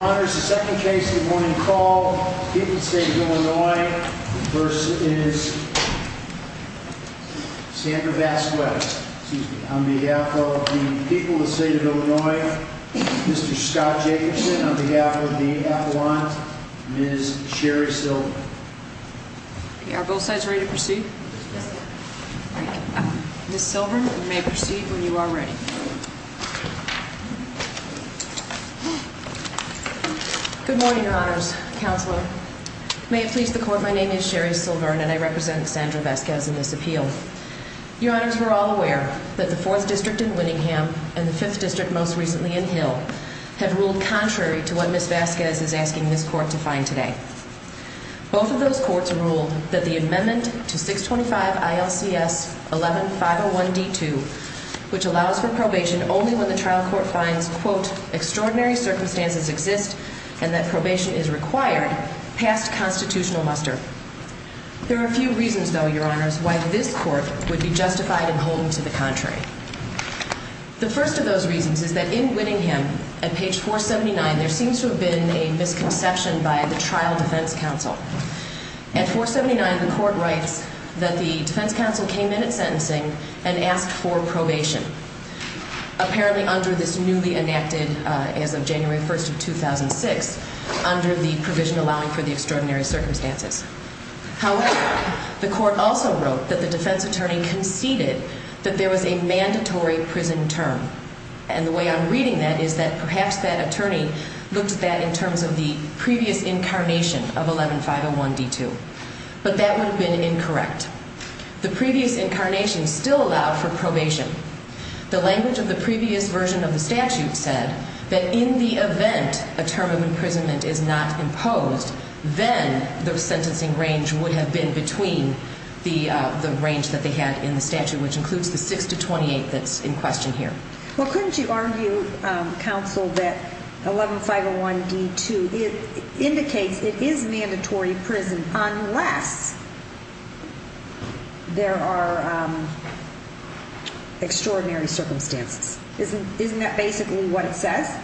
on behalf of the people of the state of Illinois, Mr. Scott Jacobson, on behalf of the athelon, Ms. Sherry Silver. Are both sides ready to proceed? Ms. Silver, you may proceed when you are ready. Good morning, Your Honors. Counselor, may it please the Court, my name is Sherry Silver and I represent Sandra Vasquez in this appeal. Your Honors, we're all aware that the Fourth District in Winningham and the Fifth District, most recently in Hill, have ruled contrary to what Ms. Vasquez is asking this Court to find today. Both of those courts ruled that the amendment to 625 ILCS 11-501-D2, which allows for probation only when the trial court finds, quote, extraordinary circumstances exist and that probation is required, passed constitutional muster. There are a few reasons, though, Your Honors, why this Court would be justified in holding to the contrary. The first of those reasons is that in Winningham, at page 479, there seems to have been a misconception by the trial defense counsel. At 479, the Court writes that the defense counsel came in at sentencing and asked for probation, apparently under this newly enacted, as of January 1st of 2006, under the provision allowing for the extraordinary circumstances. However, the Court also wrote that the defense attorney conceded that there was a mandatory prison term. And the way I'm reading that is that perhaps that attorney looked at that in terms of the previous incarnation of 11-501-D2. But that would have been incorrect. The previous incarnation still allowed for probation. The language of the previous version of the statute said that in the event a term of imprisonment is not imposed, then the sentencing range would have been between the range that they had in the statute, which includes the 6-28 that's in question here. Well, couldn't you argue, counsel, that 11-501-D2 indicates it is a mandatory prison unless there are extraordinary circumstances? Isn't that basically what it says?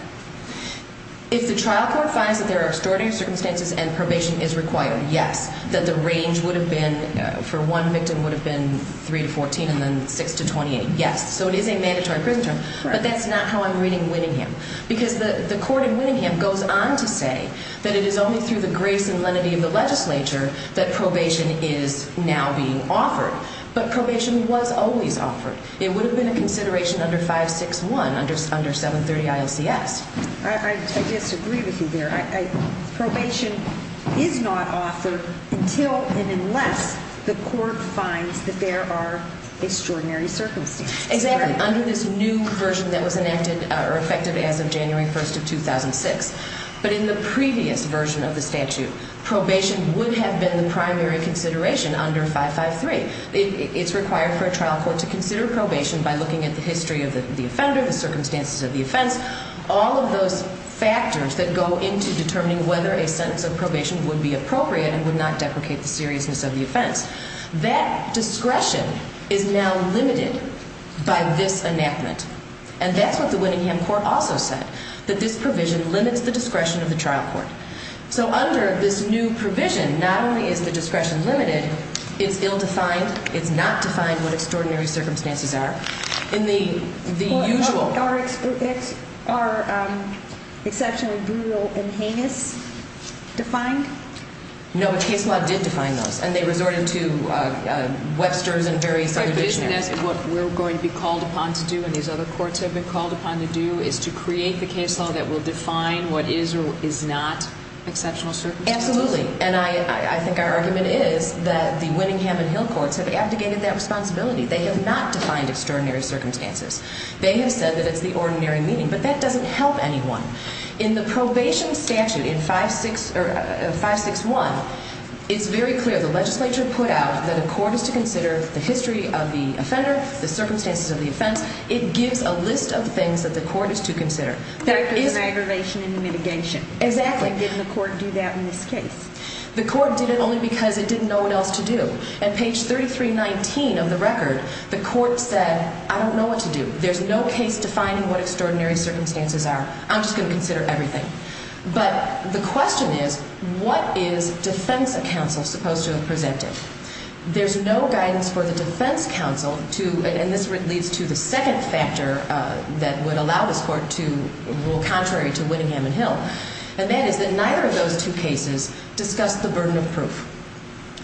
If the trial court finds that there are extraordinary circumstances and probation is required, yes. That the range would have been, for one victim, would have been 3-14 and then 6-28, yes. So it is a mandatory prison term. But that's not how I'm reading Winningham. Because the court in Winningham goes on to say that it is only through the grace and lenity of the legislature that probation is now being offered. But probation was always offered. It would have been a consideration under 561, under 730 ILCS. I disagree with you there. Probation is not offered until and unless the court finds that there are extraordinary circumstances. Exactly. Under this new version that was enacted or effective as of January 1st of 2006. But in the previous version of the statute, probation would have been the primary consideration under 553. It's required for a trial court to consider probation by looking at the history of the offender, the circumstances of the offense. All of those factors that go into determining whether a sentence of probation would be appropriate and would not deprecate the seriousness of the offense. That discretion is now limited by this enactment. And that's what the Winningham court also said. That this provision limits the discretion of the trial court. So under this new provision, not only is the discretion limited, it's ill-defined. It's not defined what extraordinary circumstances are. Are exceptionally brutal and heinous defined? No, the case law did define those. And they resort into Webster's and various other dictionaries. And that's what we're going to be called upon to do and these other courts have been called upon to do is to create the case law that will define what is or is not exceptional circumstances? Absolutely. And I think our argument is that the Winningham and Hill courts have abdicated that responsibility. They have not defined extraordinary circumstances. They have said that it's the ordinary meaning. But that doesn't help anyone. In the probation statute in 561, it's very clear. The legislature put out that a court is to consider the history of the offender, the circumstances of the offense. It gives a list of things that the court is to consider. Aggravation and mitigation. Exactly. And didn't the court do that in this case? The court did it only because it didn't know what else to do. And page 3319 of the record, the court said, I don't know what to do. There's no case defining what extraordinary circumstances are. I'm just going to consider everything. But the question is, what is defense counsel supposed to have presented? There's no guidance for the defense counsel to, and this leads to the second factor that would allow this court to rule contrary to Winningham and Hill. And that is that neither of those two cases discuss the burden of proof.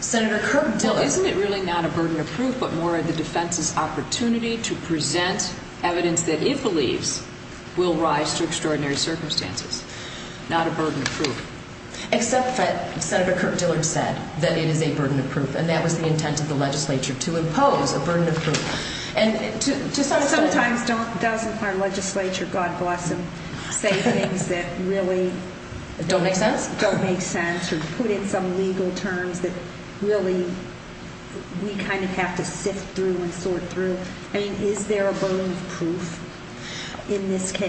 Senator Kirk Diller. Isn't it really not a burden of proof, but more of the defense's opportunity to present evidence that it believes will rise to extraordinary circumstances? Not a burden of proof. Except that Senator Kirk Diller said that it is a burden of proof, and that was the intent of the legislature, to impose a burden of proof. Sometimes doesn't our legislature, God bless them, say things that really don't make sense or put in some legal terms that really we kind of have to sift through and sort through? I mean, is there a burden of proof in this case?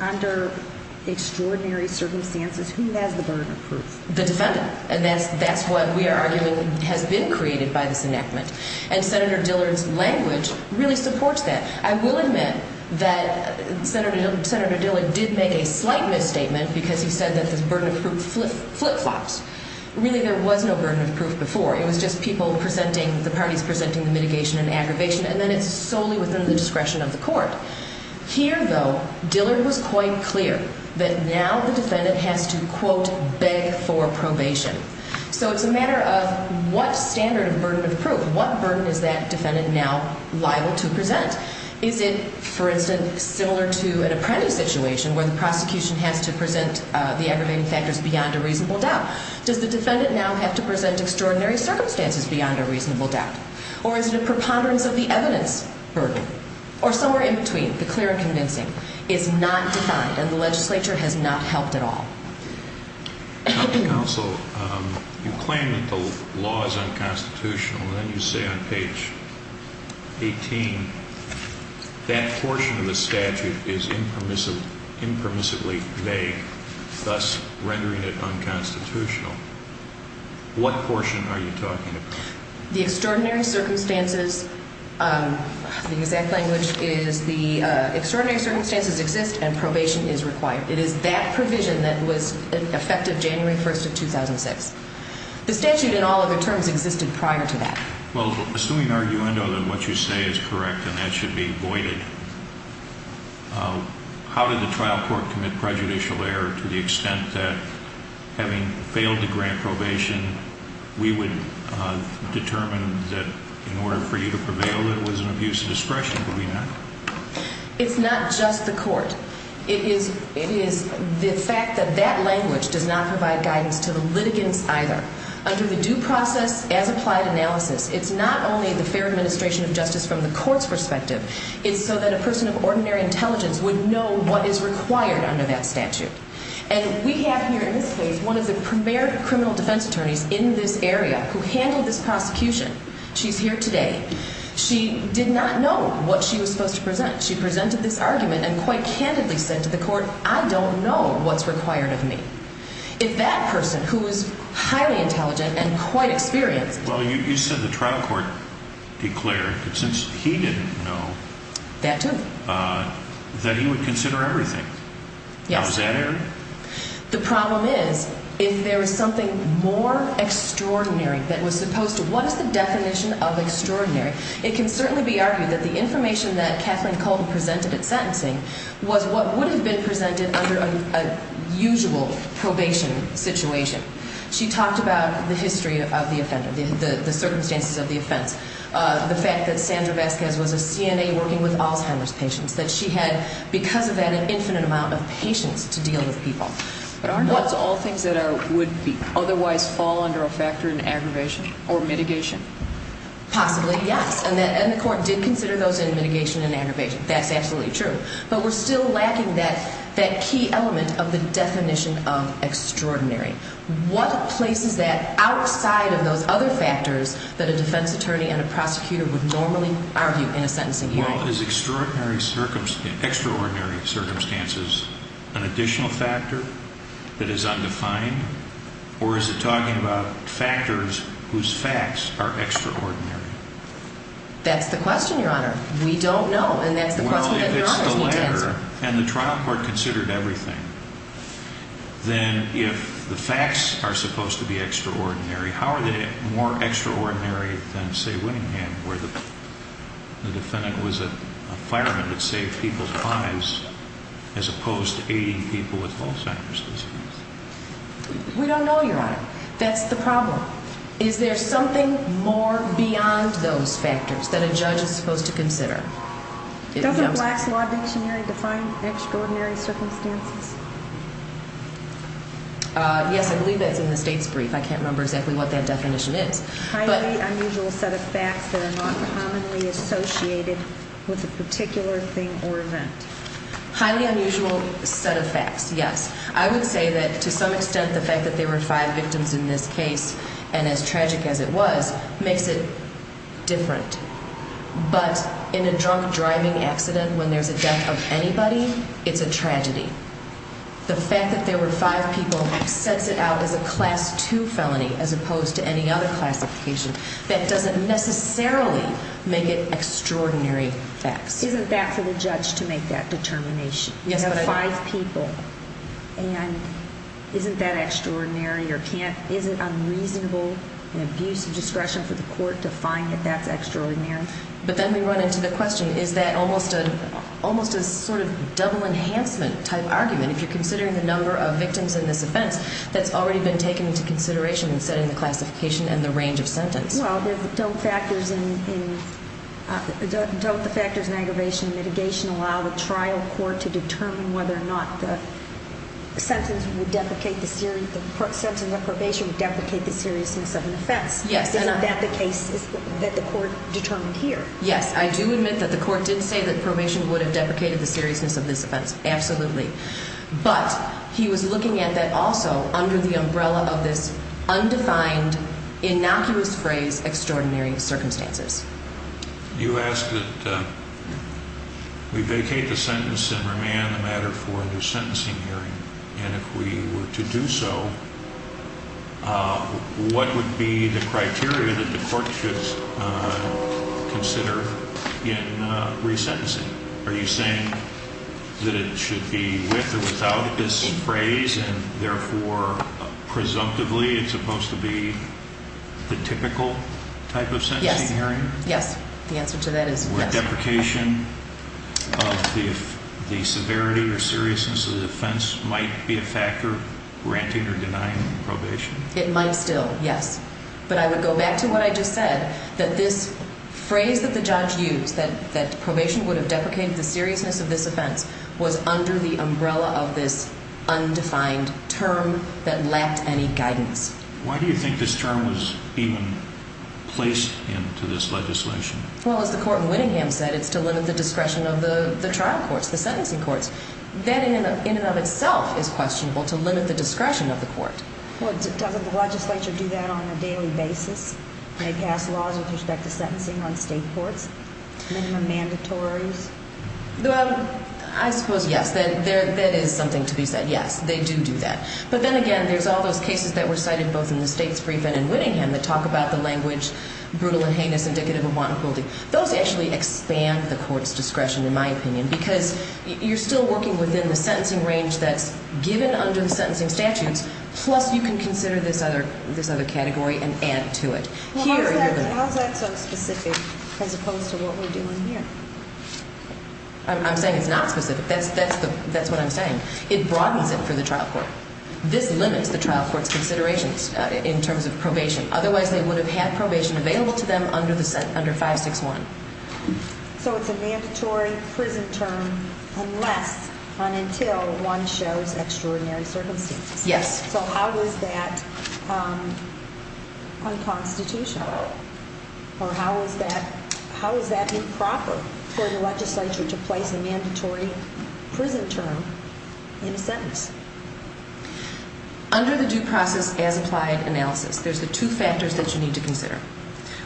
Under extraordinary circumstances, who has the burden of proof? The defendant. And that's what we are arguing has been created by this enactment. And Senator Dillard's language really supports that. I will admit that Senator Dillard did make a slight misstatement because he said that this burden of proof flip-flops. Really, there was no burden of proof before. It was just people presenting, the parties presenting the mitigation and aggravation, and then it's solely within the discretion of the court. Here, though, Dillard was quite clear that now the defendant has to, quote, beg for probation. So it's a matter of what standard of burden of proof, what burden is that defendant now liable to present? Is it, for instance, similar to an apprentice situation where the prosecution has to present the aggravating factors beyond a reasonable doubt? Does the defendant now have to present extraordinary circumstances beyond a reasonable doubt? Or is it a preponderance of the evidence burden? Or somewhere in between, the clear and convincing. It's not defined, and the legislature has not helped at all. Counsel, you claim that the law is unconstitutional. Then you say on page 18, that portion of the statute is impermissibly vague, thus rendering it unconstitutional. What portion are you talking about? The extraordinary circumstances, the exact language is the extraordinary circumstances exist and probation is required. It is that provision that was effective January 1st of 2006. The statute and all other terms existed prior to that. Well, assuming arguendo that what you say is correct and that should be voided, how did the trial court commit prejudicial error to the extent that having failed to grant probation, we would determine that in order for you to prevail, it was an abuse of discretion. Could we not? It's not just the court. It is the fact that that language does not provide guidance to the litigants either. Under the due process as applied analysis, it's not only the fair administration of justice from the court's perspective. It's so that a person of ordinary intelligence would know what is required under that statute. And we have here in this case one of the premier criminal defense attorneys in this area who handled this prosecution. She's here today. She did not know what she was supposed to present. She presented this argument and quite candidly said to the court, I don't know what's required of me. If that person who is highly intelligent and quite experienced. Well, you said the trial court declared that since he didn't know. That too. That he would consider everything. Yes. Now, is that it? The problem is if there is something more extraordinary that was supposed to, what is the definition of extraordinary? It can certainly be argued that the information that Kathleen Colton presented at sentencing was what would have been presented under a usual probation situation. She talked about the history of the offender. The circumstances of the offense. The fact that Sandra Vasquez was a CNA working with Alzheimer's patients. That she had, because of that, an infinite amount of patience to deal with people. But aren't those all things that would otherwise fall under a factor in aggravation or mitigation? Possibly, yes. And the court did consider those in mitigation and aggravation. That's absolutely true. But we're still lacking that key element of the definition of extraordinary. What places that outside of those other factors that a defense attorney and a prosecutor would normally argue in a sentencing hearing? Well, is extraordinary circumstances, extraordinary circumstances an additional factor that is undefined? Or is it talking about factors whose facts are extraordinary? That's the question, Your Honor. We don't know. And that's the question that Your Honor needs to answer. Well, if it's the latter, and the trial court considered everything, then if the facts are supposed to be extraordinary, how are they more extraordinary than, say, Winningham, where the defendant was a fireman that saved people's lives as opposed to aiding people with Alzheimer's disease? We don't know, Your Honor. That's the problem. Is there something more beyond those factors that a judge is supposed to consider? Doesn't Black's Law Dictionary define extraordinary circumstances? Yes, I believe that's in the state's brief. I can't remember exactly what that definition is. Highly unusual set of facts that are not commonly associated with a particular thing or event. Highly unusual set of facts, yes. I would say that to some extent the fact that there were five victims in this case, and as tragic as it was, makes it different. But in a drunk driving accident, when there's a death of anybody, it's a tragedy. The fact that there were five people sets it out as a Class II felony as opposed to any other classification. That doesn't necessarily make it extraordinary facts. Isn't that for the judge to make that determination? You have five people, and isn't that extraordinary, or is it unreasonable and abuse of discretion for the court to find that that's extraordinary? But then we run into the question, is that almost a sort of double enhancement type argument? If you're considering the number of victims in this offense, that's already been taken into consideration in setting the classification and the range of sentence. Well, don't the factors in aggravation and mitigation allow the trial court to determine whether or not the sentence of probation would deprecate the seriousness of an offense? Yes. Isn't that the case that the court determined here? Yes. I do admit that the court did say that probation would have deprecated the seriousness of this offense, absolutely. But he was looking at that also under the umbrella of this undefined, innocuous phrase, extraordinary circumstances. You asked that we vacate the sentence and remand the matter for the sentencing hearing. And if we were to do so, what would be the criteria that the court should consider in resentencing? Are you saying that it should be with or without this phrase, and therefore, presumptively, it's supposed to be the typical type of sentencing hearing? Yes. Yes. The answer to that is yes. Would deprecation of the severity or seriousness of the offense might be a factor granting or denying probation? It might still, yes. But I would go back to what I just said, that this phrase that the judge used, that probation would have deprecated the seriousness of this offense, was under the umbrella of this undefined term that lacked any guidance. Why do you think this term was even placed into this legislation? Well, as the court in Winningham said, it's to limit the discretion of the trial courts, the sentencing courts. That in and of itself is questionable, to limit the discretion of the court. Well, doesn't the legislature do that on a daily basis? They pass laws with respect to sentencing on state courts? Minimum mandatories? I suppose, yes. That is something to be said, yes. They do do that. But then again, there's all those cases that were cited both in the states' brief and in Winningham that talk about the language, brutal and heinous, indicative of wanton cruelty. Those actually expand the court's discretion, in my opinion, because you're still working within the sentencing range that's given under the sentencing statutes, plus you can consider this other category and add to it. How is that so specific as opposed to what we're doing here? I'm saying it's not specific. That's what I'm saying. It broadens it for the trial court. Otherwise, they would have had probation available to them under 561. So it's a mandatory prison term unless and until one shows extraordinary circumstances. Yes. So how is that unconstitutional? Or how is that improper for the legislature to place a mandatory prison term in a sentence? Under the due process as applied analysis, there's the two factors that you need to consider.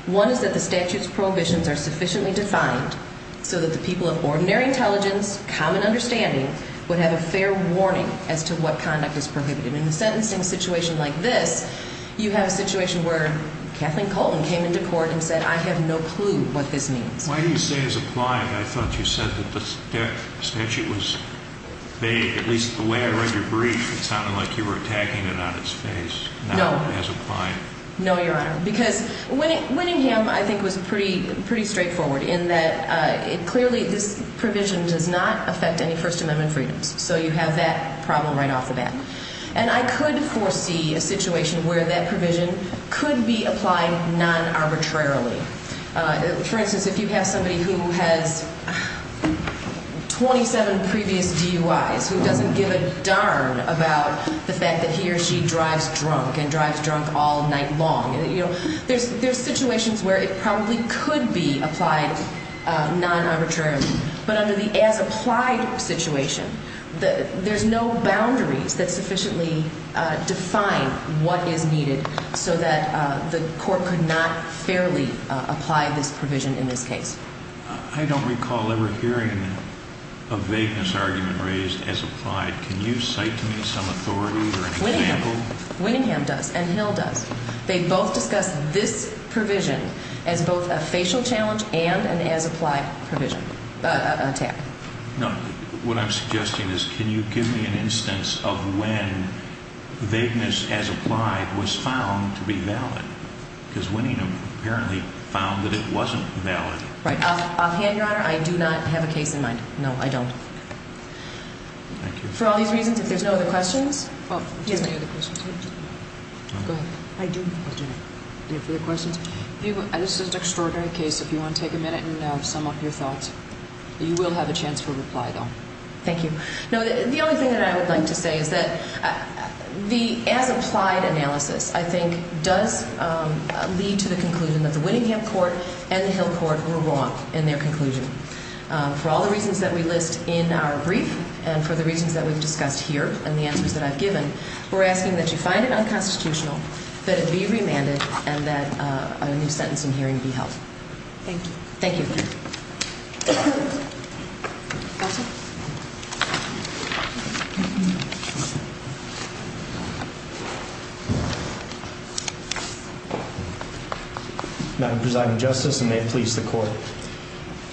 One is that the statute's prohibitions are sufficiently defined so that the people of ordinary intelligence, common understanding, would have a fair warning as to what conduct is prohibited. In a sentencing situation like this, you have a situation where Kathleen Colton came into court and said, I have no clue what this means. Why do you say as applied? I thought you said that the statute was vague. At least the way I read your brief, it sounded like you were attacking it on its face, not as applied. No, Your Honor, because Winningham, I think, was pretty straightforward in that clearly this provision does not affect any First Amendment freedoms. So you have that problem right off the bat. And I could foresee a situation where that provision could be applied non-arbitrarily. For instance, if you have somebody who has 27 previous DUIs, who doesn't give a darn about the fact that he or she drives drunk and drives drunk all night long, there's situations where it probably could be applied non-arbitrarily. But under the as applied situation, there's no boundaries that sufficiently define what is needed so that the court could not fairly apply this provision in this case. I don't recall ever hearing a vagueness argument raised as applied. Can you cite to me some authority or an example? Winningham does, and Hill does. They both discuss this provision as both a facial challenge and an as applied provision, attack. No. What I'm suggesting is can you give me an instance of when vagueness as applied was found to be valid? Because Winningham apparently found that it wasn't valid. Right. Offhand, Your Honor, I do not have a case in mind. No, I don't. Thank you. For all these reasons, if there's no other questions. Yes. Go ahead. I do not. Any further questions? This is an extraordinary case. If you want to take a minute and sum up your thoughts, you will have a chance for reply, though. Thank you. No, the only thing that I would like to say is that the as applied analysis, I think, does lead to the conclusion that the Winningham court and the Hill court were wrong in their conclusion. For all the reasons that we list in our brief and for the reasons that we've discussed here and the answers that I've given, we're asking that you find it unconstitutional, that it be remanded, and that a new sentence in hearing be held. Thank you. Thank you. Thank you. Thank you. Madam Presiding Justice, and may it please the court.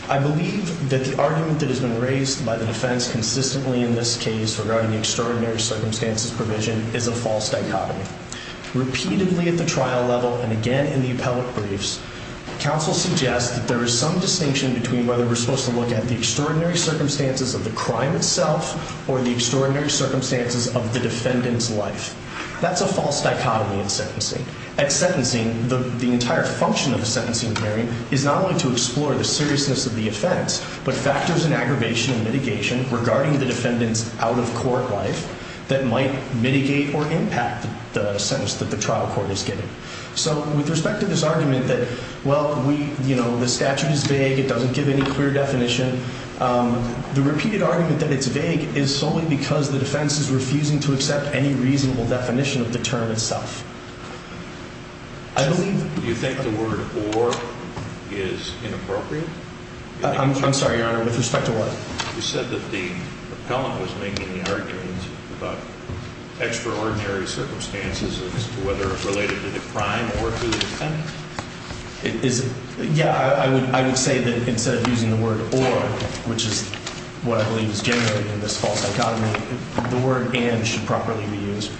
I believe that the argument that has been raised by the defense consistently in this case regarding the extraordinary circumstances provision is a false dichotomy. Repeatedly at the trial level and again in the appellate briefs, counsel suggests that there is some distinction between whether we're supposed to look at the extraordinary circumstances of the crime itself or the extraordinary circumstances of the defendant's life. That's a false dichotomy in sentencing. At sentencing, the entire function of the sentencing hearing is not only to explore the seriousness of the offense, but factors in aggravation and mitigation regarding the defendant's out-of-court life that might mitigate or impact the sentence that the trial court is giving. So with respect to this argument that, well, we, you know, the statute is vague. It doesn't give any clear definition. The repeated argument that it's vague is solely because the defense is refusing to accept any reasonable definition of the term itself. I believe you think the word or is inappropriate. I'm sorry, Your Honor. With respect to what? You said that the appellant was making the argument about extraordinary circumstances as to whether it's related to the crime or to the defendant. Is it? Yeah, I would say that instead of using the word or, which is what I believe is generally in this false dichotomy, the word and should properly be used.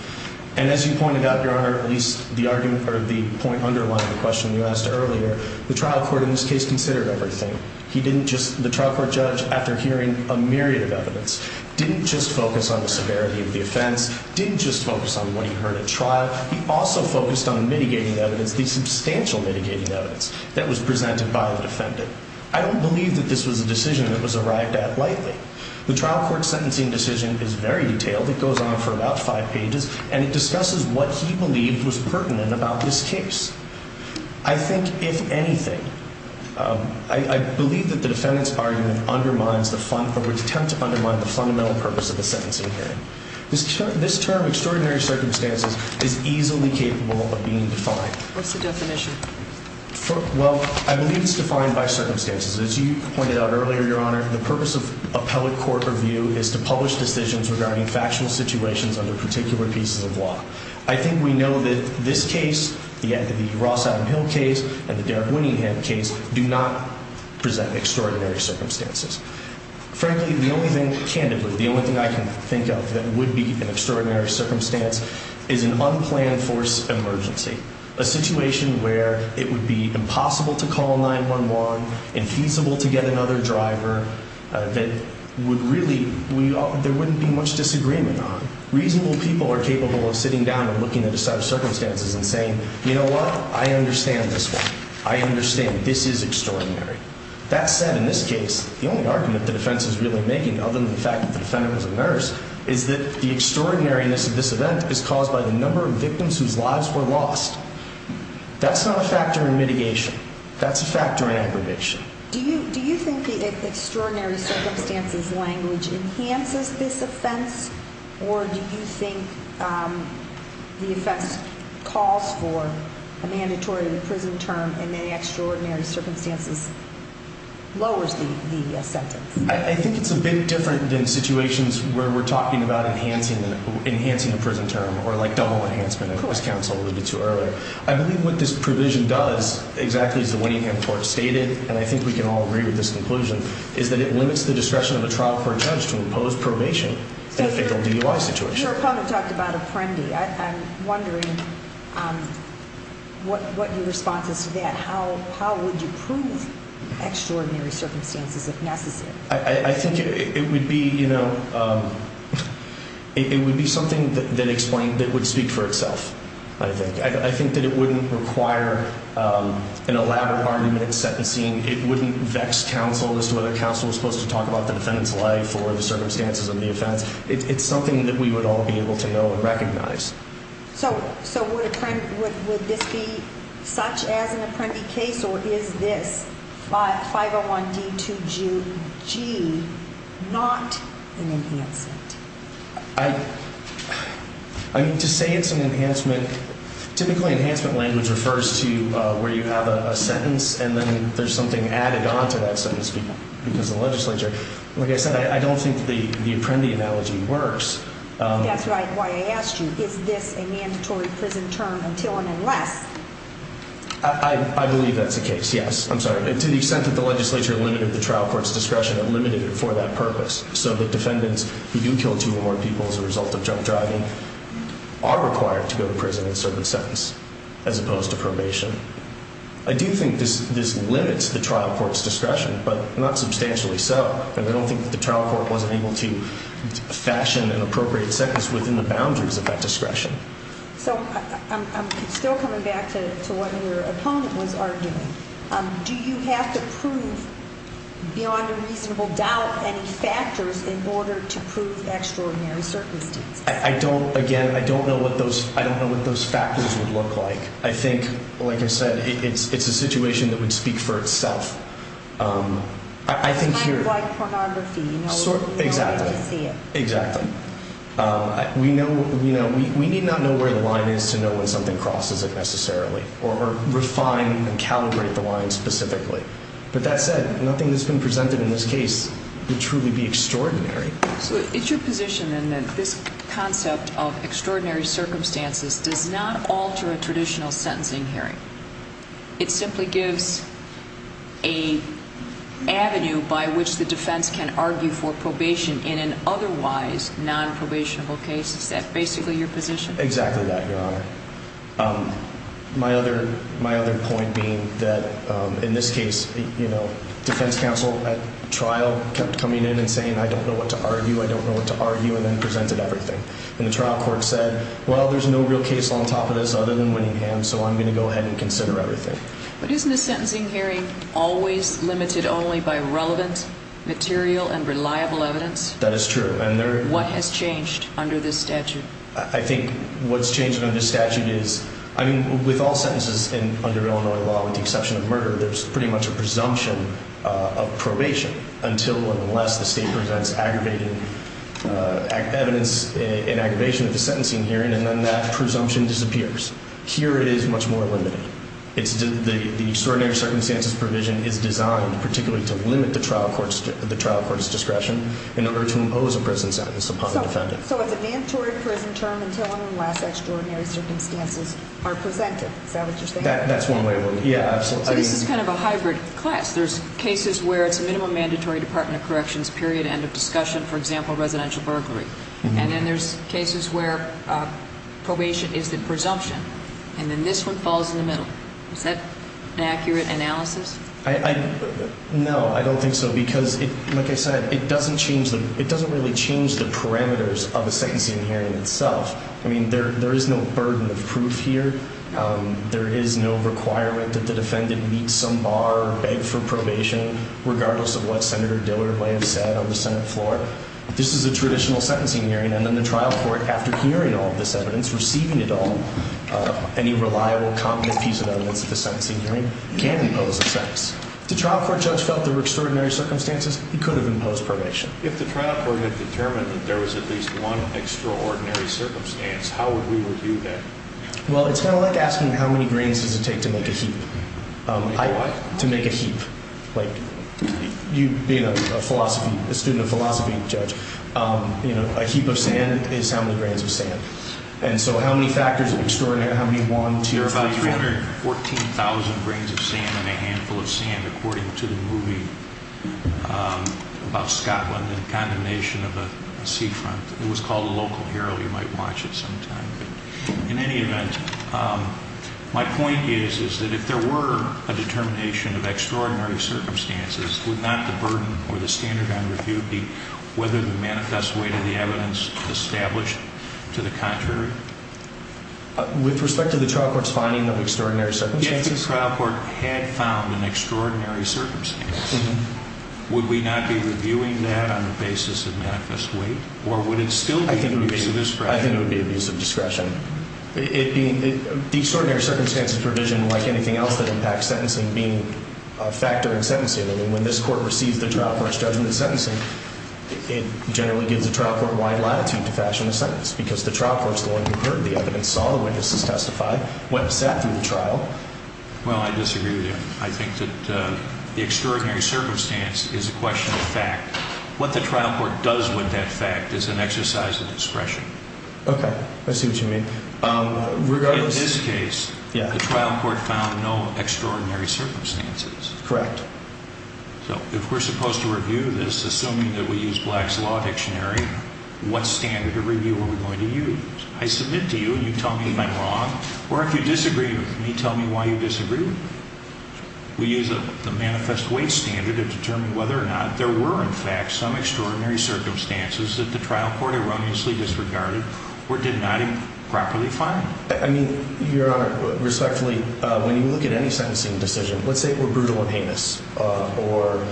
And as you pointed out, Your Honor, at least the argument or the point underlying the question you asked earlier, the trial court in this case considered everything. The trial court judge, after hearing a myriad of evidence, didn't just focus on the severity of the offense, didn't just focus on what he heard at trial. He also focused on mitigating evidence, the substantial mitigating evidence that was presented by the defendant. I don't believe that this was a decision that was arrived at lightly. The trial court sentencing decision is very detailed. It goes on for about five pages, and it discusses what he believed was pertinent about this case. I think, if anything, I believe that the defendant's argument undermines the fund, or would attempt to undermine the fundamental purpose of the sentencing hearing. This term, extraordinary circumstances, is easily capable of being defined. What's the definition? Well, I believe it's defined by circumstances. As you pointed out earlier, Your Honor, the purpose of appellate court review is to publish decisions regarding factual situations under particular pieces of law. I think we know that this case, the Ross Adam Hill case, and the Derek Winningham case, do not present extraordinary circumstances. Frankly, the only thing, candidly, the only thing I can think of that would be an extraordinary circumstance is an unplanned force emergency. A situation where it would be impossible to call 911, infeasible to get another driver, that would really, there wouldn't be much disagreement on. Reasonable people are capable of sitting down and looking at a set of circumstances and saying, you know what? I understand this one. I understand this is extraordinary. That said, in this case, the only argument the defense is really making, other than the fact that the defendant was a nurse, is that the extraordinariness of this event is caused by the number of victims whose lives were lost. That's not a factor in mitigation. That's a factor in aggravation. Do you think the extraordinary circumstances language enhances this offense? Or do you think the offense calls for a mandatory prison term and the extraordinary circumstances lowers the sentence? I think it's a bit different than situations where we're talking about enhancing a prison term or like double enhancement. It always counts a little bit too early. I believe what this provision does, exactly as the Whittingham Court stated, and I think we can all agree with this conclusion, is that it limits the discretion of a trial court judge to impose probation in a fatal DUI situation. Your opponent talked about a prende. I'm wondering what your response is to that. How would you prove extraordinary circumstances if necessary? I think it would be, you know, it would be something that would speak for itself, I think. I think that it wouldn't require an elaborate argument in sentencing. It wouldn't vex counsel as to whether counsel was supposed to talk about the defendant's life or the circumstances of the offense. It's something that we would all be able to know and recognize. So would this be such as an apprendi case, or is this 501D2G not an enhancement? I mean, to say it's an enhancement, typically enhancement language refers to where you have a sentence and then there's something added on to that sentence because of the legislature. Like I said, I don't think the apprendi analogy works. That's right. Why I asked you, is this a mandatory prison term until and unless? I believe that's the case, yes. I'm sorry. To the extent that the legislature limited the trial court's discretion, it limited it for that purpose. So the defendants who do kill two or more people as a result of drunk driving are required to go to prison in a certain sentence as opposed to probation. I do think this limits the trial court's discretion, but not substantially so. And I don't think that the trial court wasn't able to fashion an appropriate sentence within the boundaries of that discretion. So I'm still coming back to what your opponent was arguing. Do you have to prove beyond a reasonable doubt any factors in order to prove extraordinary circumstances? I don't. Again, I don't know what those factors would look like. I think, like I said, it's a situation that would speak for itself. Kind of like pornography. Exactly. You know when you see it. Exactly. We need not know where the line is to know when something crosses it necessarily or refine and calibrate the line specifically. But that said, nothing that's been presented in this case would truly be extraordinary. So it's your position then that this concept of extraordinary circumstances does not alter a traditional sentencing hearing. It simply gives an avenue by which the defense can argue for probation in an otherwise non-probationable case. Is that basically your position? Exactly that, Your Honor. My other point being that in this case, you know, defense counsel at trial kept coming in and saying, I don't know what to argue, I don't know what to argue, and then presented everything. And the trial court said, well, there's no real case on top of this other than Winningham, so I'm going to go ahead and consider everything. But isn't a sentencing hearing always limited only by relevant, material, and reliable evidence? That is true. What has changed under this statute? I think what's changed under this statute is, I mean, with all sentences under Illinois law with the exception of murder, there's pretty much a presumption of probation until and unless the state presents evidence in aggravation of the sentencing hearing, and then that presumption disappears. Here it is much more limited. The extraordinary circumstances provision is designed particularly to limit the trial court's discretion in order to impose a prison sentence upon the defendant. So it's a mandatory prison term until and unless extraordinary circumstances are presented. Is that what you're saying? That's one way of looking at it. Yeah, absolutely. So this is kind of a hybrid class. There's cases where it's a minimum mandatory Department of Corrections period, end of discussion, for example, residential burglary. And then there's cases where probation is the presumption, and then this one falls in the middle. Is that an accurate analysis? No, I don't think so because, like I said, it doesn't really change the parameters of a sentencing hearing itself. I mean, there is no burden of proof here. There is no requirement that the defendant meet some bar, beg for probation, regardless of what Senator Dillard may have said on the Senate floor. This is a traditional sentencing hearing, and then the trial court, after hearing all of this evidence, receiving it all, any reliable, competent piece of evidence at the sentencing hearing, can impose a sentence. If the trial court judge felt there were extraordinary circumstances, he could have imposed probation. If the trial court had determined that there was at least one extraordinary circumstance, how would we review that? Well, it's kind of like asking how many grains does it take to make a heap. To make what? To make a heap. Like, you being a philosophy, a student of philosophy, judge, you know, a heap of sand is how many grains of sand. And so how many factors of extraordinary, how many one, two, three, four? There are about 314,000 grains of sand in a handful of sand, according to the movie about Scotland and condemnation of a seafront. It was called The Local Herald. You might watch it sometime. In any event, my point is, is that if there were a determination of extraordinary circumstances, would not the burden or the standard on review be whether the manifest weight of the evidence established to the contrary? With respect to the trial court's finding of extraordinary circumstances? If the trial court had found an extraordinary circumstance, would we not be reviewing that on the basis of manifest weight? Or would it still be an abuse of discretion? I think it would be an abuse of discretion. The extraordinary circumstances provision, like anything else that impacts sentencing, being a factor in sentencing. I mean, when this court receives the trial court's judgment of sentencing, it generally gives the trial court wide latitude to fashion a sentence. Because the trial court is the one who heard the evidence, saw the witnesses testify, went and sat through the trial. Well, I disagree with you. I think that the extraordinary circumstance is a question of fact. What the trial court does with that fact is an exercise of discretion. Okay. I see what you mean. In this case, the trial court found no extraordinary circumstances. Correct. So if we're supposed to review this, assuming that we use Black's Law Dictionary, what standard of review are we going to use? I submit to you, and you tell me if I'm wrong, or if you disagree with me, tell me why you disagree with me. We use the manifest weight standard to determine whether or not there were, in fact, some extraordinary circumstances that the trial court erroneously disregarded or did not properly find. I mean, Your Honor, respectfully, when you look at any sentencing decision, let's say it were brutal and heinous or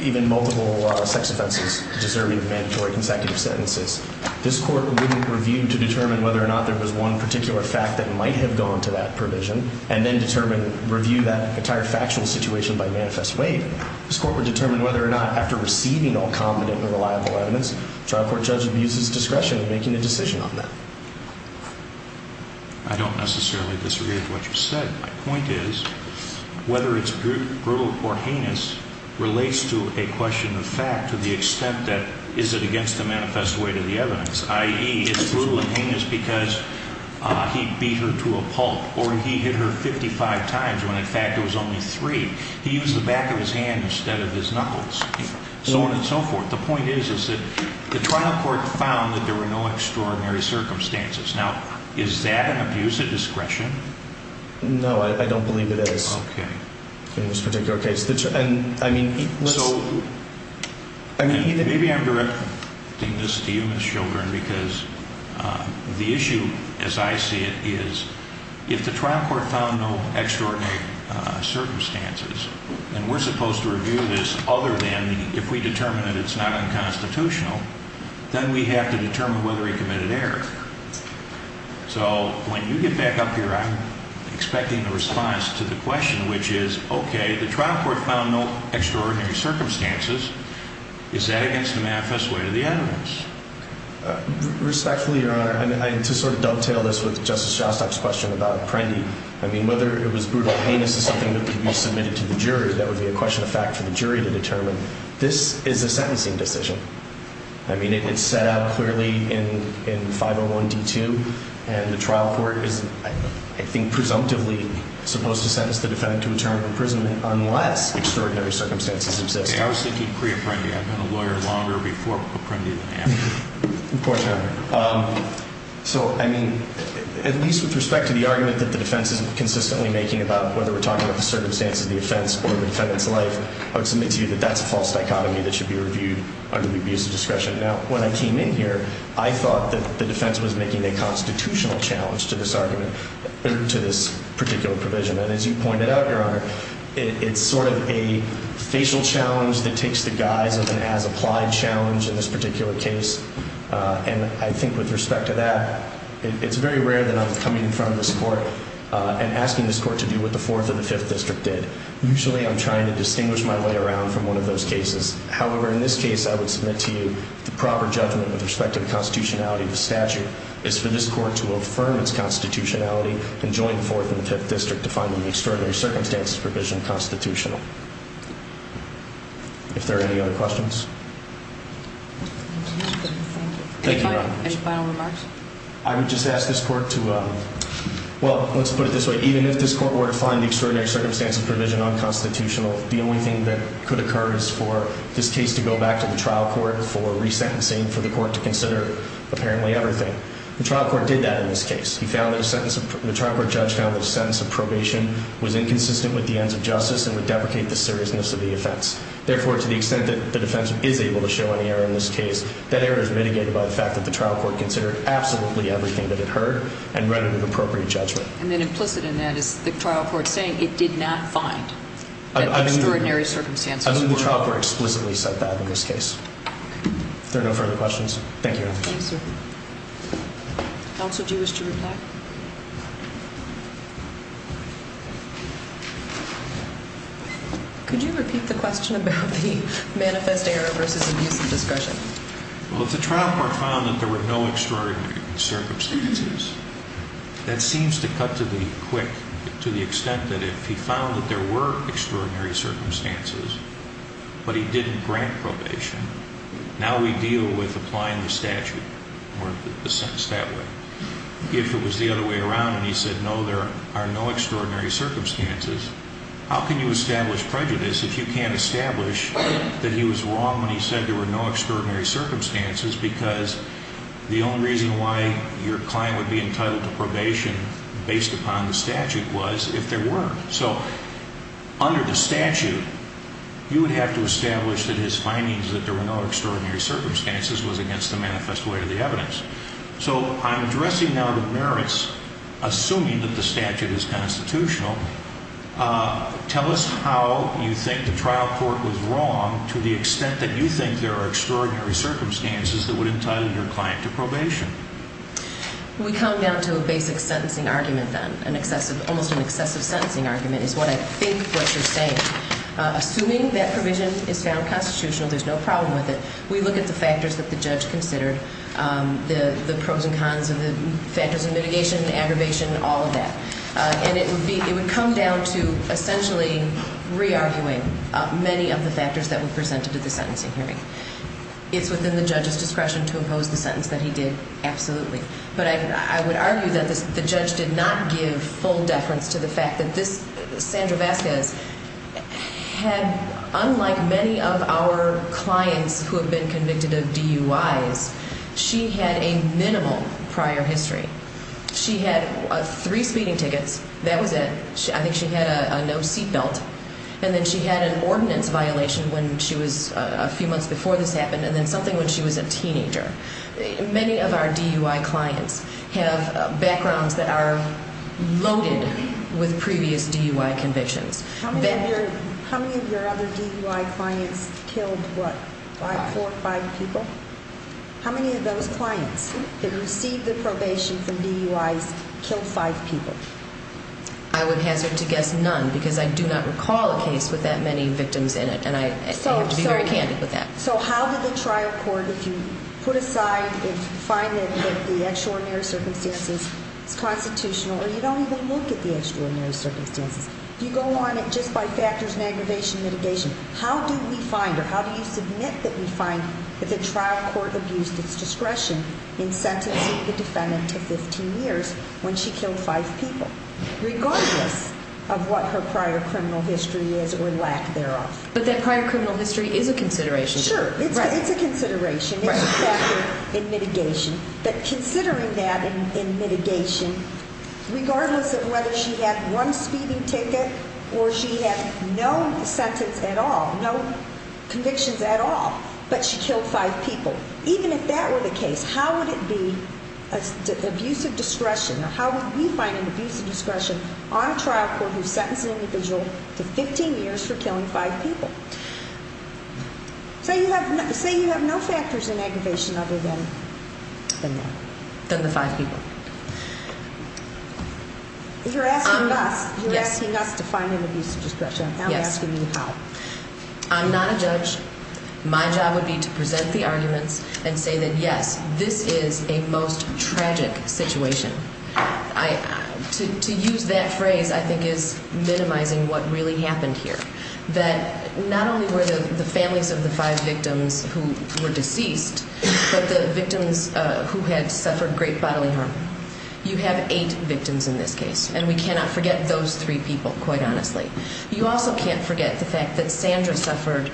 even multiple sex offenses deserving of mandatory consecutive sentences. This court wouldn't review to determine whether or not there was one particular fact that might have gone to that provision and then determine, review that entire factual situation by manifest weight. This court would determine whether or not, after receiving all competent and reliable evidence, the trial court judge would use his discretion in making a decision on that. I don't necessarily disagree with what you've said. My point is, whether it's brutal or heinous relates to a question of fact to the extent that is it against the manifest weight of the evidence, i.e., it's brutal and heinous because he beat her to a pulp or he hit her 55 times when, in fact, it was only three. He used the back of his hand instead of his knuckles, so on and so forth. The point is, is that the trial court found that there were no extraordinary circumstances. Now, is that an abuse of discretion? No, I don't believe it is in this particular case. Maybe I'm directing this to you, Ms. Children, because the issue, as I see it, is if the trial court found no extraordinary circumstances and we're supposed to review this other than if we determine that it's not unconstitutional, then we have to determine whether he committed error. So when you get back up here, I'm expecting the response to the question, which is, okay, the trial court found no extraordinary circumstances. Is that against the manifest weight of the evidence? Respectfully, Your Honor, to sort of dovetail this with Justice Shostak's question about Prendy, I mean, whether it was brutal or heinous is something that could be submitted to the jury. That would be a question of fact for the jury to determine. This is a sentencing decision. I mean, it's set out clearly in 501D2, and the trial court is, I think, presumptively supposed to sentence the defendant to a term of imprisonment unless extraordinary circumstances exist. I was thinking pre-Apprendi. I've been a lawyer longer before Apprendi than after. Of course, Your Honor. So, I mean, at least with respect to the argument that the defense is consistently making about whether we're talking about the circumstances of the offense or the defendant's life, I would submit to you that that's a false dichotomy that should be reviewed under the abuse of discretion. Now, when I came in here, I thought that the defense was making a constitutional challenge to this argument, to this particular provision. And as you pointed out, Your Honor, it's sort of a facial challenge that takes the guise of an as-applied challenge in this particular case. And I think with respect to that, it's very rare that I'm coming in front of this court and asking this court to do what the Fourth and the Fifth District did. Usually, I'm trying to distinguish my way around from one of those cases. However, in this case, I would submit to you the proper judgment with respect to the constitutionality of the statute is for this court to affirm its constitutionality and join the Fourth and the Fifth District to find the extraordinary circumstances provision constitutional. If there are any other questions? Thank you, Your Honor. Any final remarks? I would just ask this court to, well, let's put it this way. Even if this court were to find the extraordinary circumstances provision unconstitutional, the only thing that could occur is for this case to go back to the trial court for resentencing, for the court to consider apparently everything. The trial court did that in this case. The trial court judge found that a sentence of probation was inconsistent with the ends of justice and would deprecate the seriousness of the offense. Therefore, to the extent that the defense is able to show any error in this case, that error is mitigated by the fact that the trial court considered absolutely everything that it heard and read it with appropriate judgment. And then implicit in that is the trial court saying it did not find that the extraordinary circumstances were unconstitutional. I believe the trial court explicitly said that in this case. If there are no further questions, thank you, Your Honor. Thank you, sir. Counsel, do you wish to reply? Could you repeat the question about the manifest error versus abuse of discretion? Well, if the trial court found that there were no extraordinary circumstances, that seems to cut to the quick, to the extent that if he found that there were extraordinary circumstances, but he didn't grant probation, now we deal with applying the statute or the sentence that way. If it was the other way around and he said, no, there are no extraordinary circumstances, how can you establish prejudice if you can't establish that he was wrong when he said there were no extraordinary circumstances because the only reason why your client would be entitled to probation based upon the statute was if there were. So under the statute, you would have to establish that his findings that there were no extraordinary circumstances was against the manifest way to the evidence. So I'm addressing now the merits, assuming that the statute is constitutional. Tell us how you think the trial court was wrong to the extent that you think there are extraordinary circumstances that would entitle your client to probation. We come down to a basic sentencing argument then, an excessive, almost an excessive sentencing argument is what I think what you're saying. Assuming that provision is found constitutional, there's no problem with it. We look at the factors that the judge considered, the pros and cons of the factors of mitigation, aggravation, all of that. And it would be, it would come down to essentially re-arguing many of the factors that were presented at the sentencing hearing. It's within the judge's discretion to impose the sentence that he did, absolutely. But I would argue that the judge did not give full deference to the fact that this, Sandra Vasquez, had, unlike many of our clients who have been convicted of DUIs, she had a minimal prior history. She had three speeding tickets, that was it. I think she had a no seat belt. And then she had an ordinance violation when she was, a few months before this happened, and then something when she was a teenager. Many of our DUI clients have backgrounds that are loaded with previous DUI convictions. How many of your other DUI clients killed, what, four or five people? How many of those clients that received the probation from DUIs killed five people? I would hazard to guess none, because I do not recall a case with that many victims in it, and I have to be very candid with that. So how did the trial court, if you put aside, if you find that the extraordinary circumstances is constitutional, or you don't even look at the extraordinary circumstances, if you go on it just by factors and aggravation and mitigation, how do we find, or how do you submit that we find that the trial court abused its discretion in sentencing the defendant to 15 years when she killed five people, regardless of what her prior criminal history is or lack thereof? But that prior criminal history is a consideration. Sure. It's a consideration. It's a factor in mitigation. But considering that in mitigation, regardless of whether she had one speeding ticket or she had no sentence at all, no convictions at all, but she killed five people, even if that were the case, how would it be abusive discretion, or how would we find an abusive discretion on a trial court who sentenced an individual to 15 years for killing five people? Say you have no factors in aggravation other than that. Than the five people. You're asking us. You're asking us to find an abusive discretion. I'm asking you how. I'm not a judge. My job would be to present the arguments and say that, yes, this is a most tragic situation. To use that phrase, I think, is minimizing what really happened here, that not only were the families of the five victims who were deceased, but the victims who had suffered great bodily harm. You have eight victims in this case, and we cannot forget those three people, quite honestly. You also can't forget the fact that Sandra suffered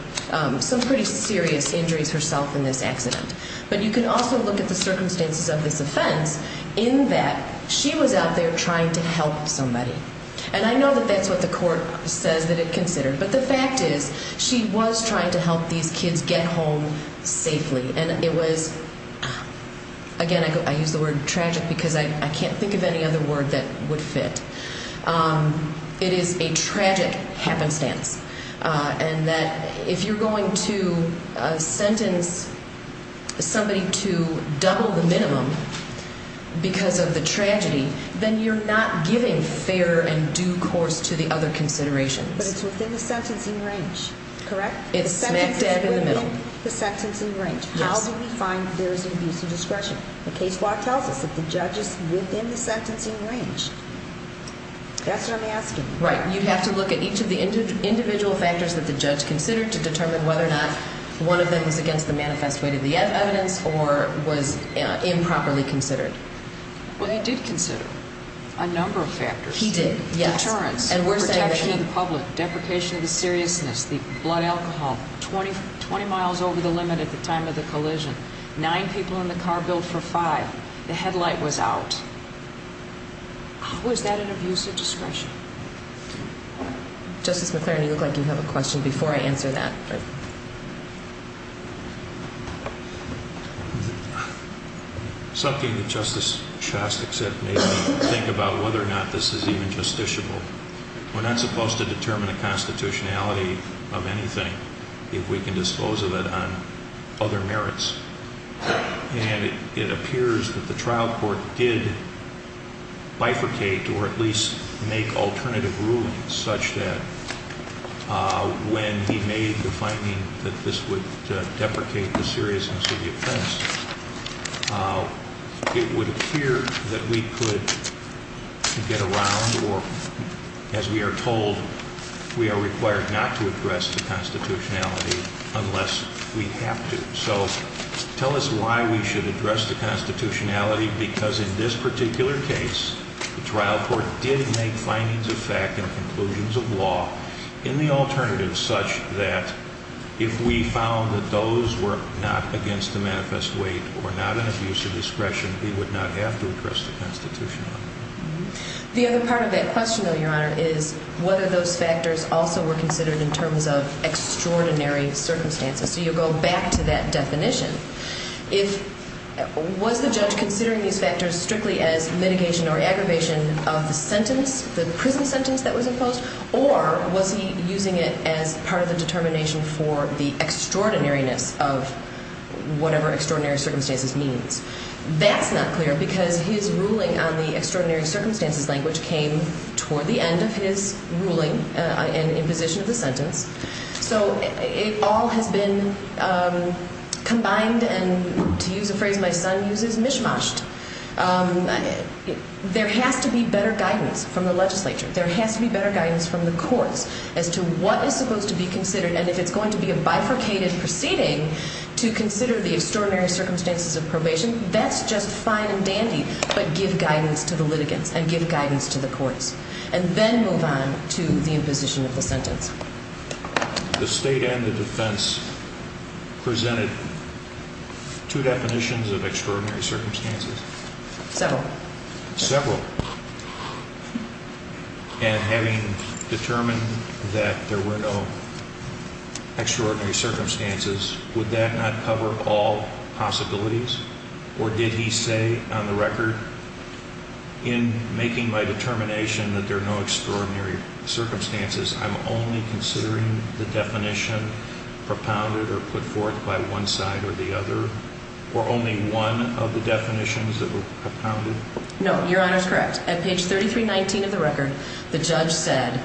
some pretty serious injuries herself in this accident. But you can also look at the circumstances of this offense in that she was out there trying to help somebody. And I know that that's what the court says that it considered. But the fact is she was trying to help these kids get home safely. And it was, again, I use the word tragic because I can't think of any other word that would fit. It is a tragic happenstance, and that if you're going to sentence somebody to double the minimum because of the tragedy, then you're not giving fair and due course to the other considerations. But it's within the sentencing range, correct? It's smack dab in the middle. It's within the sentencing range. Yes. How do we find there is an abusive discretion? The case law tells us that the judge is within the sentencing range. That's what I'm asking. Right. You have to look at each of the individual factors that the judge considered to determine whether or not one of them was against the manifest way to the evidence or was improperly considered. Well, he did consider a number of factors. He did. Yes. Deterrence, protection of the public, deprecation of the seriousness, the blood alcohol, 20 miles over the limit at the time of the collision, nine people in the car billed for five. The headlight was out. How is that an abusive discretion? Justice McLaren, you look like you have a question before I answer that. Something that Justice Shastak said made me think about whether or not this is even justiciable. We're not supposed to determine the constitutionality of anything if we can dispose of it on other merits. And it appears that the trial court did bifurcate or at least make alternative rulings such that when he made the finding that this would deprecate the seriousness of the offense, it would appear that we could get around or, as we are told, we are required not to address the constitutionality unless we have to. So tell us why we should address the constitutionality because in this particular case, the trial court did make findings of fact and conclusions of law in the alternative such that if we found that those were not against the manifest weight or not an abusive discretion, we would not have to address the constitutionality. The other part of that question, though, Your Honor, is whether those factors also were considered in terms of extraordinary circumstances. So you go back to that definition. Was the judge considering these factors strictly as mitigation or aggravation of the sentence, the prison sentence that was imposed, or was he using it as part of the determination for the extraordinariness of whatever extraordinary circumstances means? That's not clear because his ruling on the extraordinary circumstances language came toward the end of his ruling and imposition of the sentence. So it all has been combined and, to use a phrase my son uses, mishmashed. There has to be better guidance from the legislature. There has to be better guidance from the courts as to what is supposed to be considered. And if it's going to be a bifurcated proceeding to consider the extraordinary circumstances of probation, that's just fine and dandy. But give guidance to the litigants and give guidance to the courts and then move on to the imposition of the sentence. The state and the defense presented two definitions of extraordinary circumstances. Several. Several. And having determined that there were no extraordinary circumstances, would that not cover all possibilities? Or did he say on the record, in making my determination that there are no extraordinary circumstances, I'm only considering the definition propounded or put forth by one side or the other? Or only one of the definitions that were propounded? No, Your Honor is correct. At page 3319 of the record, the judge said,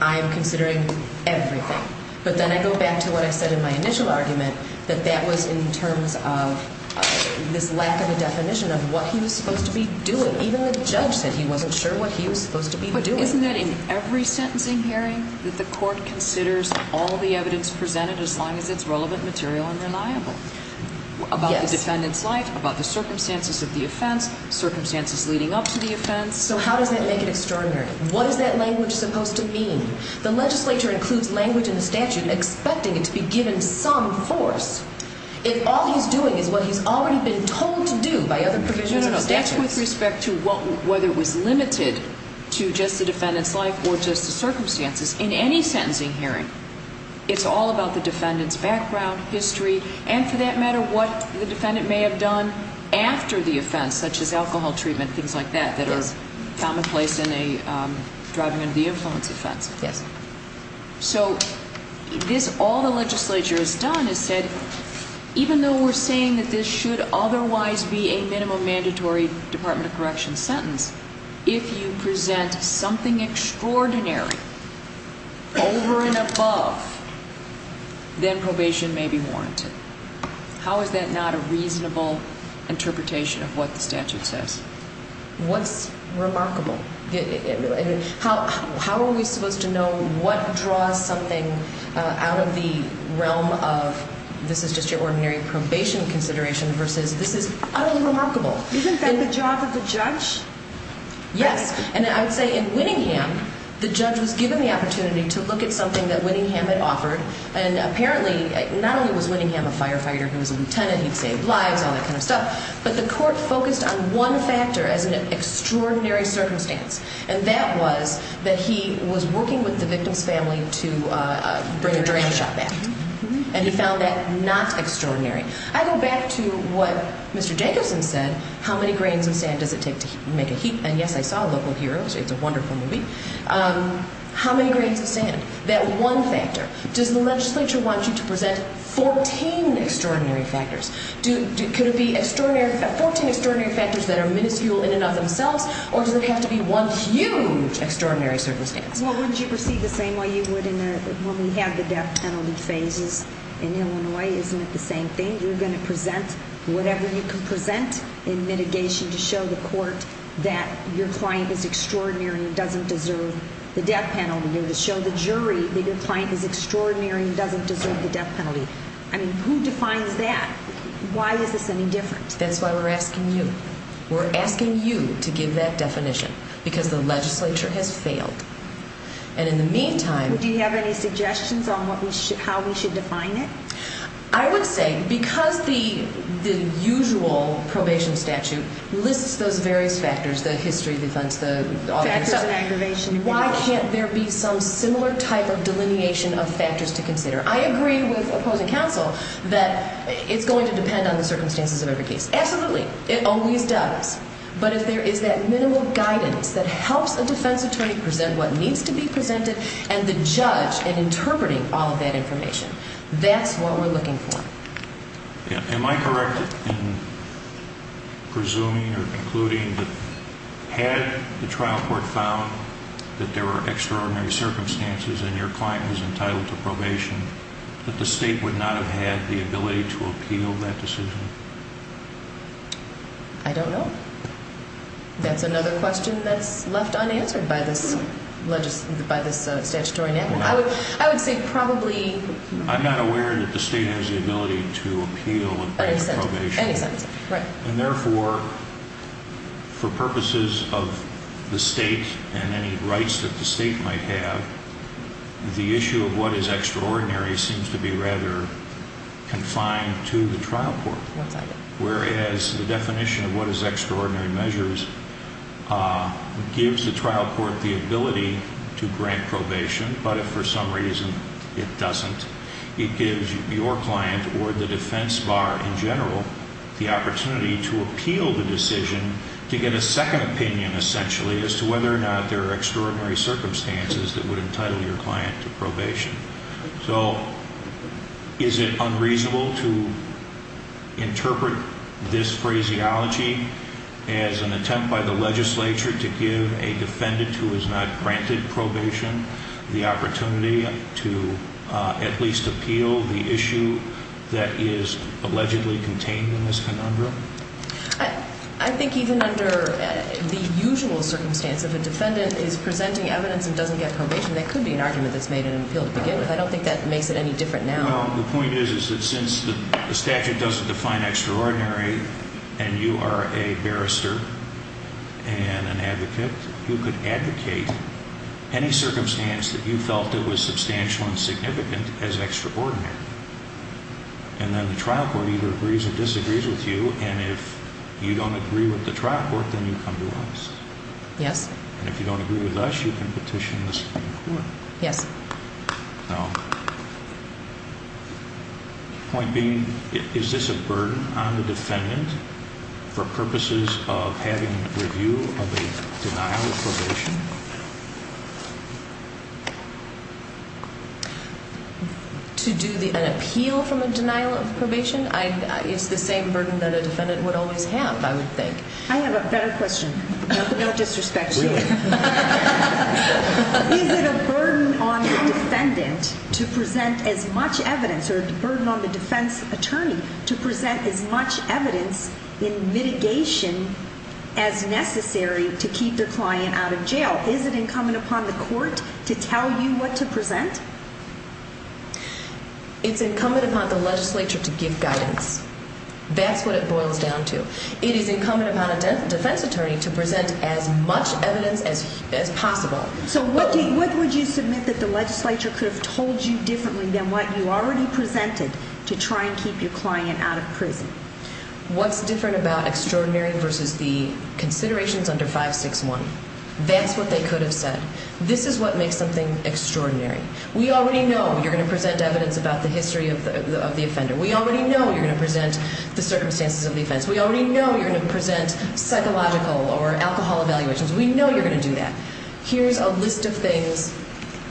I am considering everything. But then I go back to what I said in my initial argument, that that was in terms of this lack of a definition of what he was supposed to be doing. Even the judge said he wasn't sure what he was supposed to be doing. But isn't that in every sentencing hearing that the court considers all the evidence presented as long as it's relevant material and reliable? Yes. The defendant's life, about the circumstances of the offense, circumstances leading up to the offense. So how does that make it extraordinary? What is that language supposed to mean? The legislature includes language in the statute expecting it to be given some force if all he's doing is what he's already been told to do by other provisions of the statute. No, no, no. That's with respect to whether it was limited to just the defendant's life or just the circumstances. In any sentencing hearing, it's all about the defendant's background, history, and for that matter, what the defendant may have done after the offense, such as alcohol treatment, things like that, that are commonplace in a driving under the influence offense. Yes. So all the legislature has done is said, even though we're saying that this should otherwise be a minimum mandatory Department of Correction sentence, if you present something extraordinary over and above, then probation may be warranted. How is that not a reasonable interpretation of what the statute says? What's remarkable? How are we supposed to know what draws something out of the realm of this is just your ordinary probation consideration versus this is utterly remarkable? Isn't that the job of the judge? Yes. And I would say in Winningham, the judge was given the opportunity to look at something that Winningham had offered. And apparently, not only was Winningham a firefighter, he was a lieutenant, he'd save lives, all that kind of stuff, but the court focused on one factor as an extraordinary circumstance. And that was that he was working with the victim's family to bring a drain shot back. And he found that not extraordinary. I go back to what Mr. Jacobson said, how many grains of sand does it take to make a heap? And yes, I saw Local Heroes. How many grains of sand? That one factor. Does the legislature want you to present 14 extraordinary factors? Could it be 14 extraordinary factors that are minuscule in and of themselves, or does it have to be one huge extraordinary circumstance? Well, wouldn't you proceed the same way you would when we have the death penalty phases in Illinois? Isn't it the same thing? You're going to present whatever you can present in mitigation to show the court that your client is extraordinary and doesn't deserve the death penalty. You're going to show the jury that your client is extraordinary and doesn't deserve the death penalty. I mean, who defines that? Why is this any different? That's why we're asking you. We're asking you to give that definition, because the legislature has failed. And in the meantime... Would you have any suggestions on how we should define it? I would say, because the usual probation statute lists those various factors, the history defense, the... Factors of aggravation. Why can't there be some similar type of delineation of factors to consider? I agree with opposing counsel that it's going to depend on the circumstances of every case. Absolutely. It always does. But if there is that minimal guidance that helps a defense attorney present what needs to be presented and the judge in interpreting all of that information, that's what we're looking for. Am I correct in presuming or concluding that had the trial court found that there were extraordinary circumstances and your client was entitled to probation, that the state would not have had the ability to appeal that decision? I don't know. That's another question that's left unanswered by this statutory enactment. I would say probably... I'm not aware that the state has the ability to appeal and grant probation. Any sentencing, right. And therefore, for purposes of the state and any rights that the state might have, the issue of what is extraordinary seems to be rather confined to the trial court. Whereas the definition of what is extraordinary measures gives the trial court the ability to grant probation, but if for some reason it doesn't, it gives your client or the defense bar in general the opportunity to appeal the decision to get a second opinion essentially as to whether or not there are extraordinary circumstances that would entitle your client to probation. So is it unreasonable to interpret this phraseology as an attempt by the legislature to give a defendant who is not granted probation the opportunity to at least appeal the issue that is allegedly contained in this conundrum? I think even under the usual circumstance, if a defendant is presenting evidence and doesn't get probation, that could be an argument that's made in an appeal to begin with. I don't think that makes it any different now. No, the point is that since the statute doesn't define extraordinary and you are a barrister and an advocate, you could advocate any circumstance that you felt that was substantial and significant as extraordinary. And then the trial court either agrees or disagrees with you, and if you don't agree with the trial court, then you come to us. Yes. And if you don't agree with us, you can petition the Supreme Court. Yes. No. Point being, is this a burden on the defendant for purposes of having review of a denial of probation? To do an appeal from a denial of probation is the same burden that a defendant would always have, I would think. I have a better question. No disrespect. Really? Is it a burden on the defendant to present as much evidence, or a burden on the defense attorney, to present as much evidence in mitigation as necessary to keep their client out of jail? Is it incumbent upon the court to tell you what to present? It's incumbent upon the legislature to give guidance. That's what it boils down to. It is incumbent upon a defense attorney to present as much evidence as possible. So what would you submit that the legislature could have told you differently than what you already presented to try and keep your client out of prison? What's different about extraordinary versus the considerations under 561? That's what they could have said. This is what makes something extraordinary. We already know you're going to present evidence about the history of the offender. We already know you're going to present the circumstances of the offense. We already know you're going to present psychological or alcohol evaluations. We know you're going to do that. Here's a list of things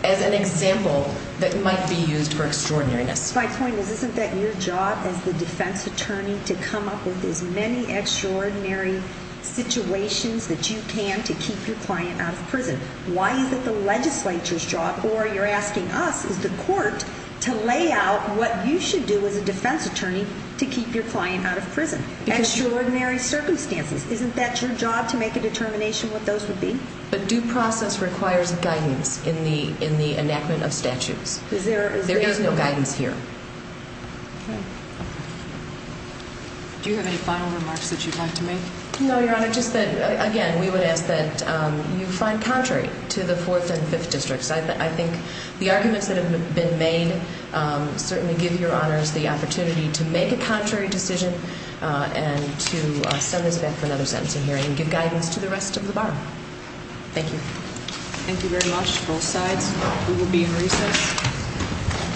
as an example that might be used for extraordinariness. My point is, isn't that your job as the defense attorney to come up with as many extraordinary situations that you can to keep your client out of prison? Why is it the legislature's job, or you're asking us, as the court, to lay out what you should do as a defense attorney to keep your client out of prison? Extraordinary circumstances. Isn't that your job to make a determination what those would be? But due process requires guidance in the enactment of statutes. There is no guidance here. Do you have any final remarks that you'd like to make? No, Your Honor. Just that, again, we would ask that you find contrary to the Fourth and Fifth Districts. I think the arguments that have been made certainly give Your Honors the opportunity to make a contrary decision and to send this back for another sentencing hearing and give guidance to the rest of the bar. Thank you. Thank you very much, both sides. We will be in recess.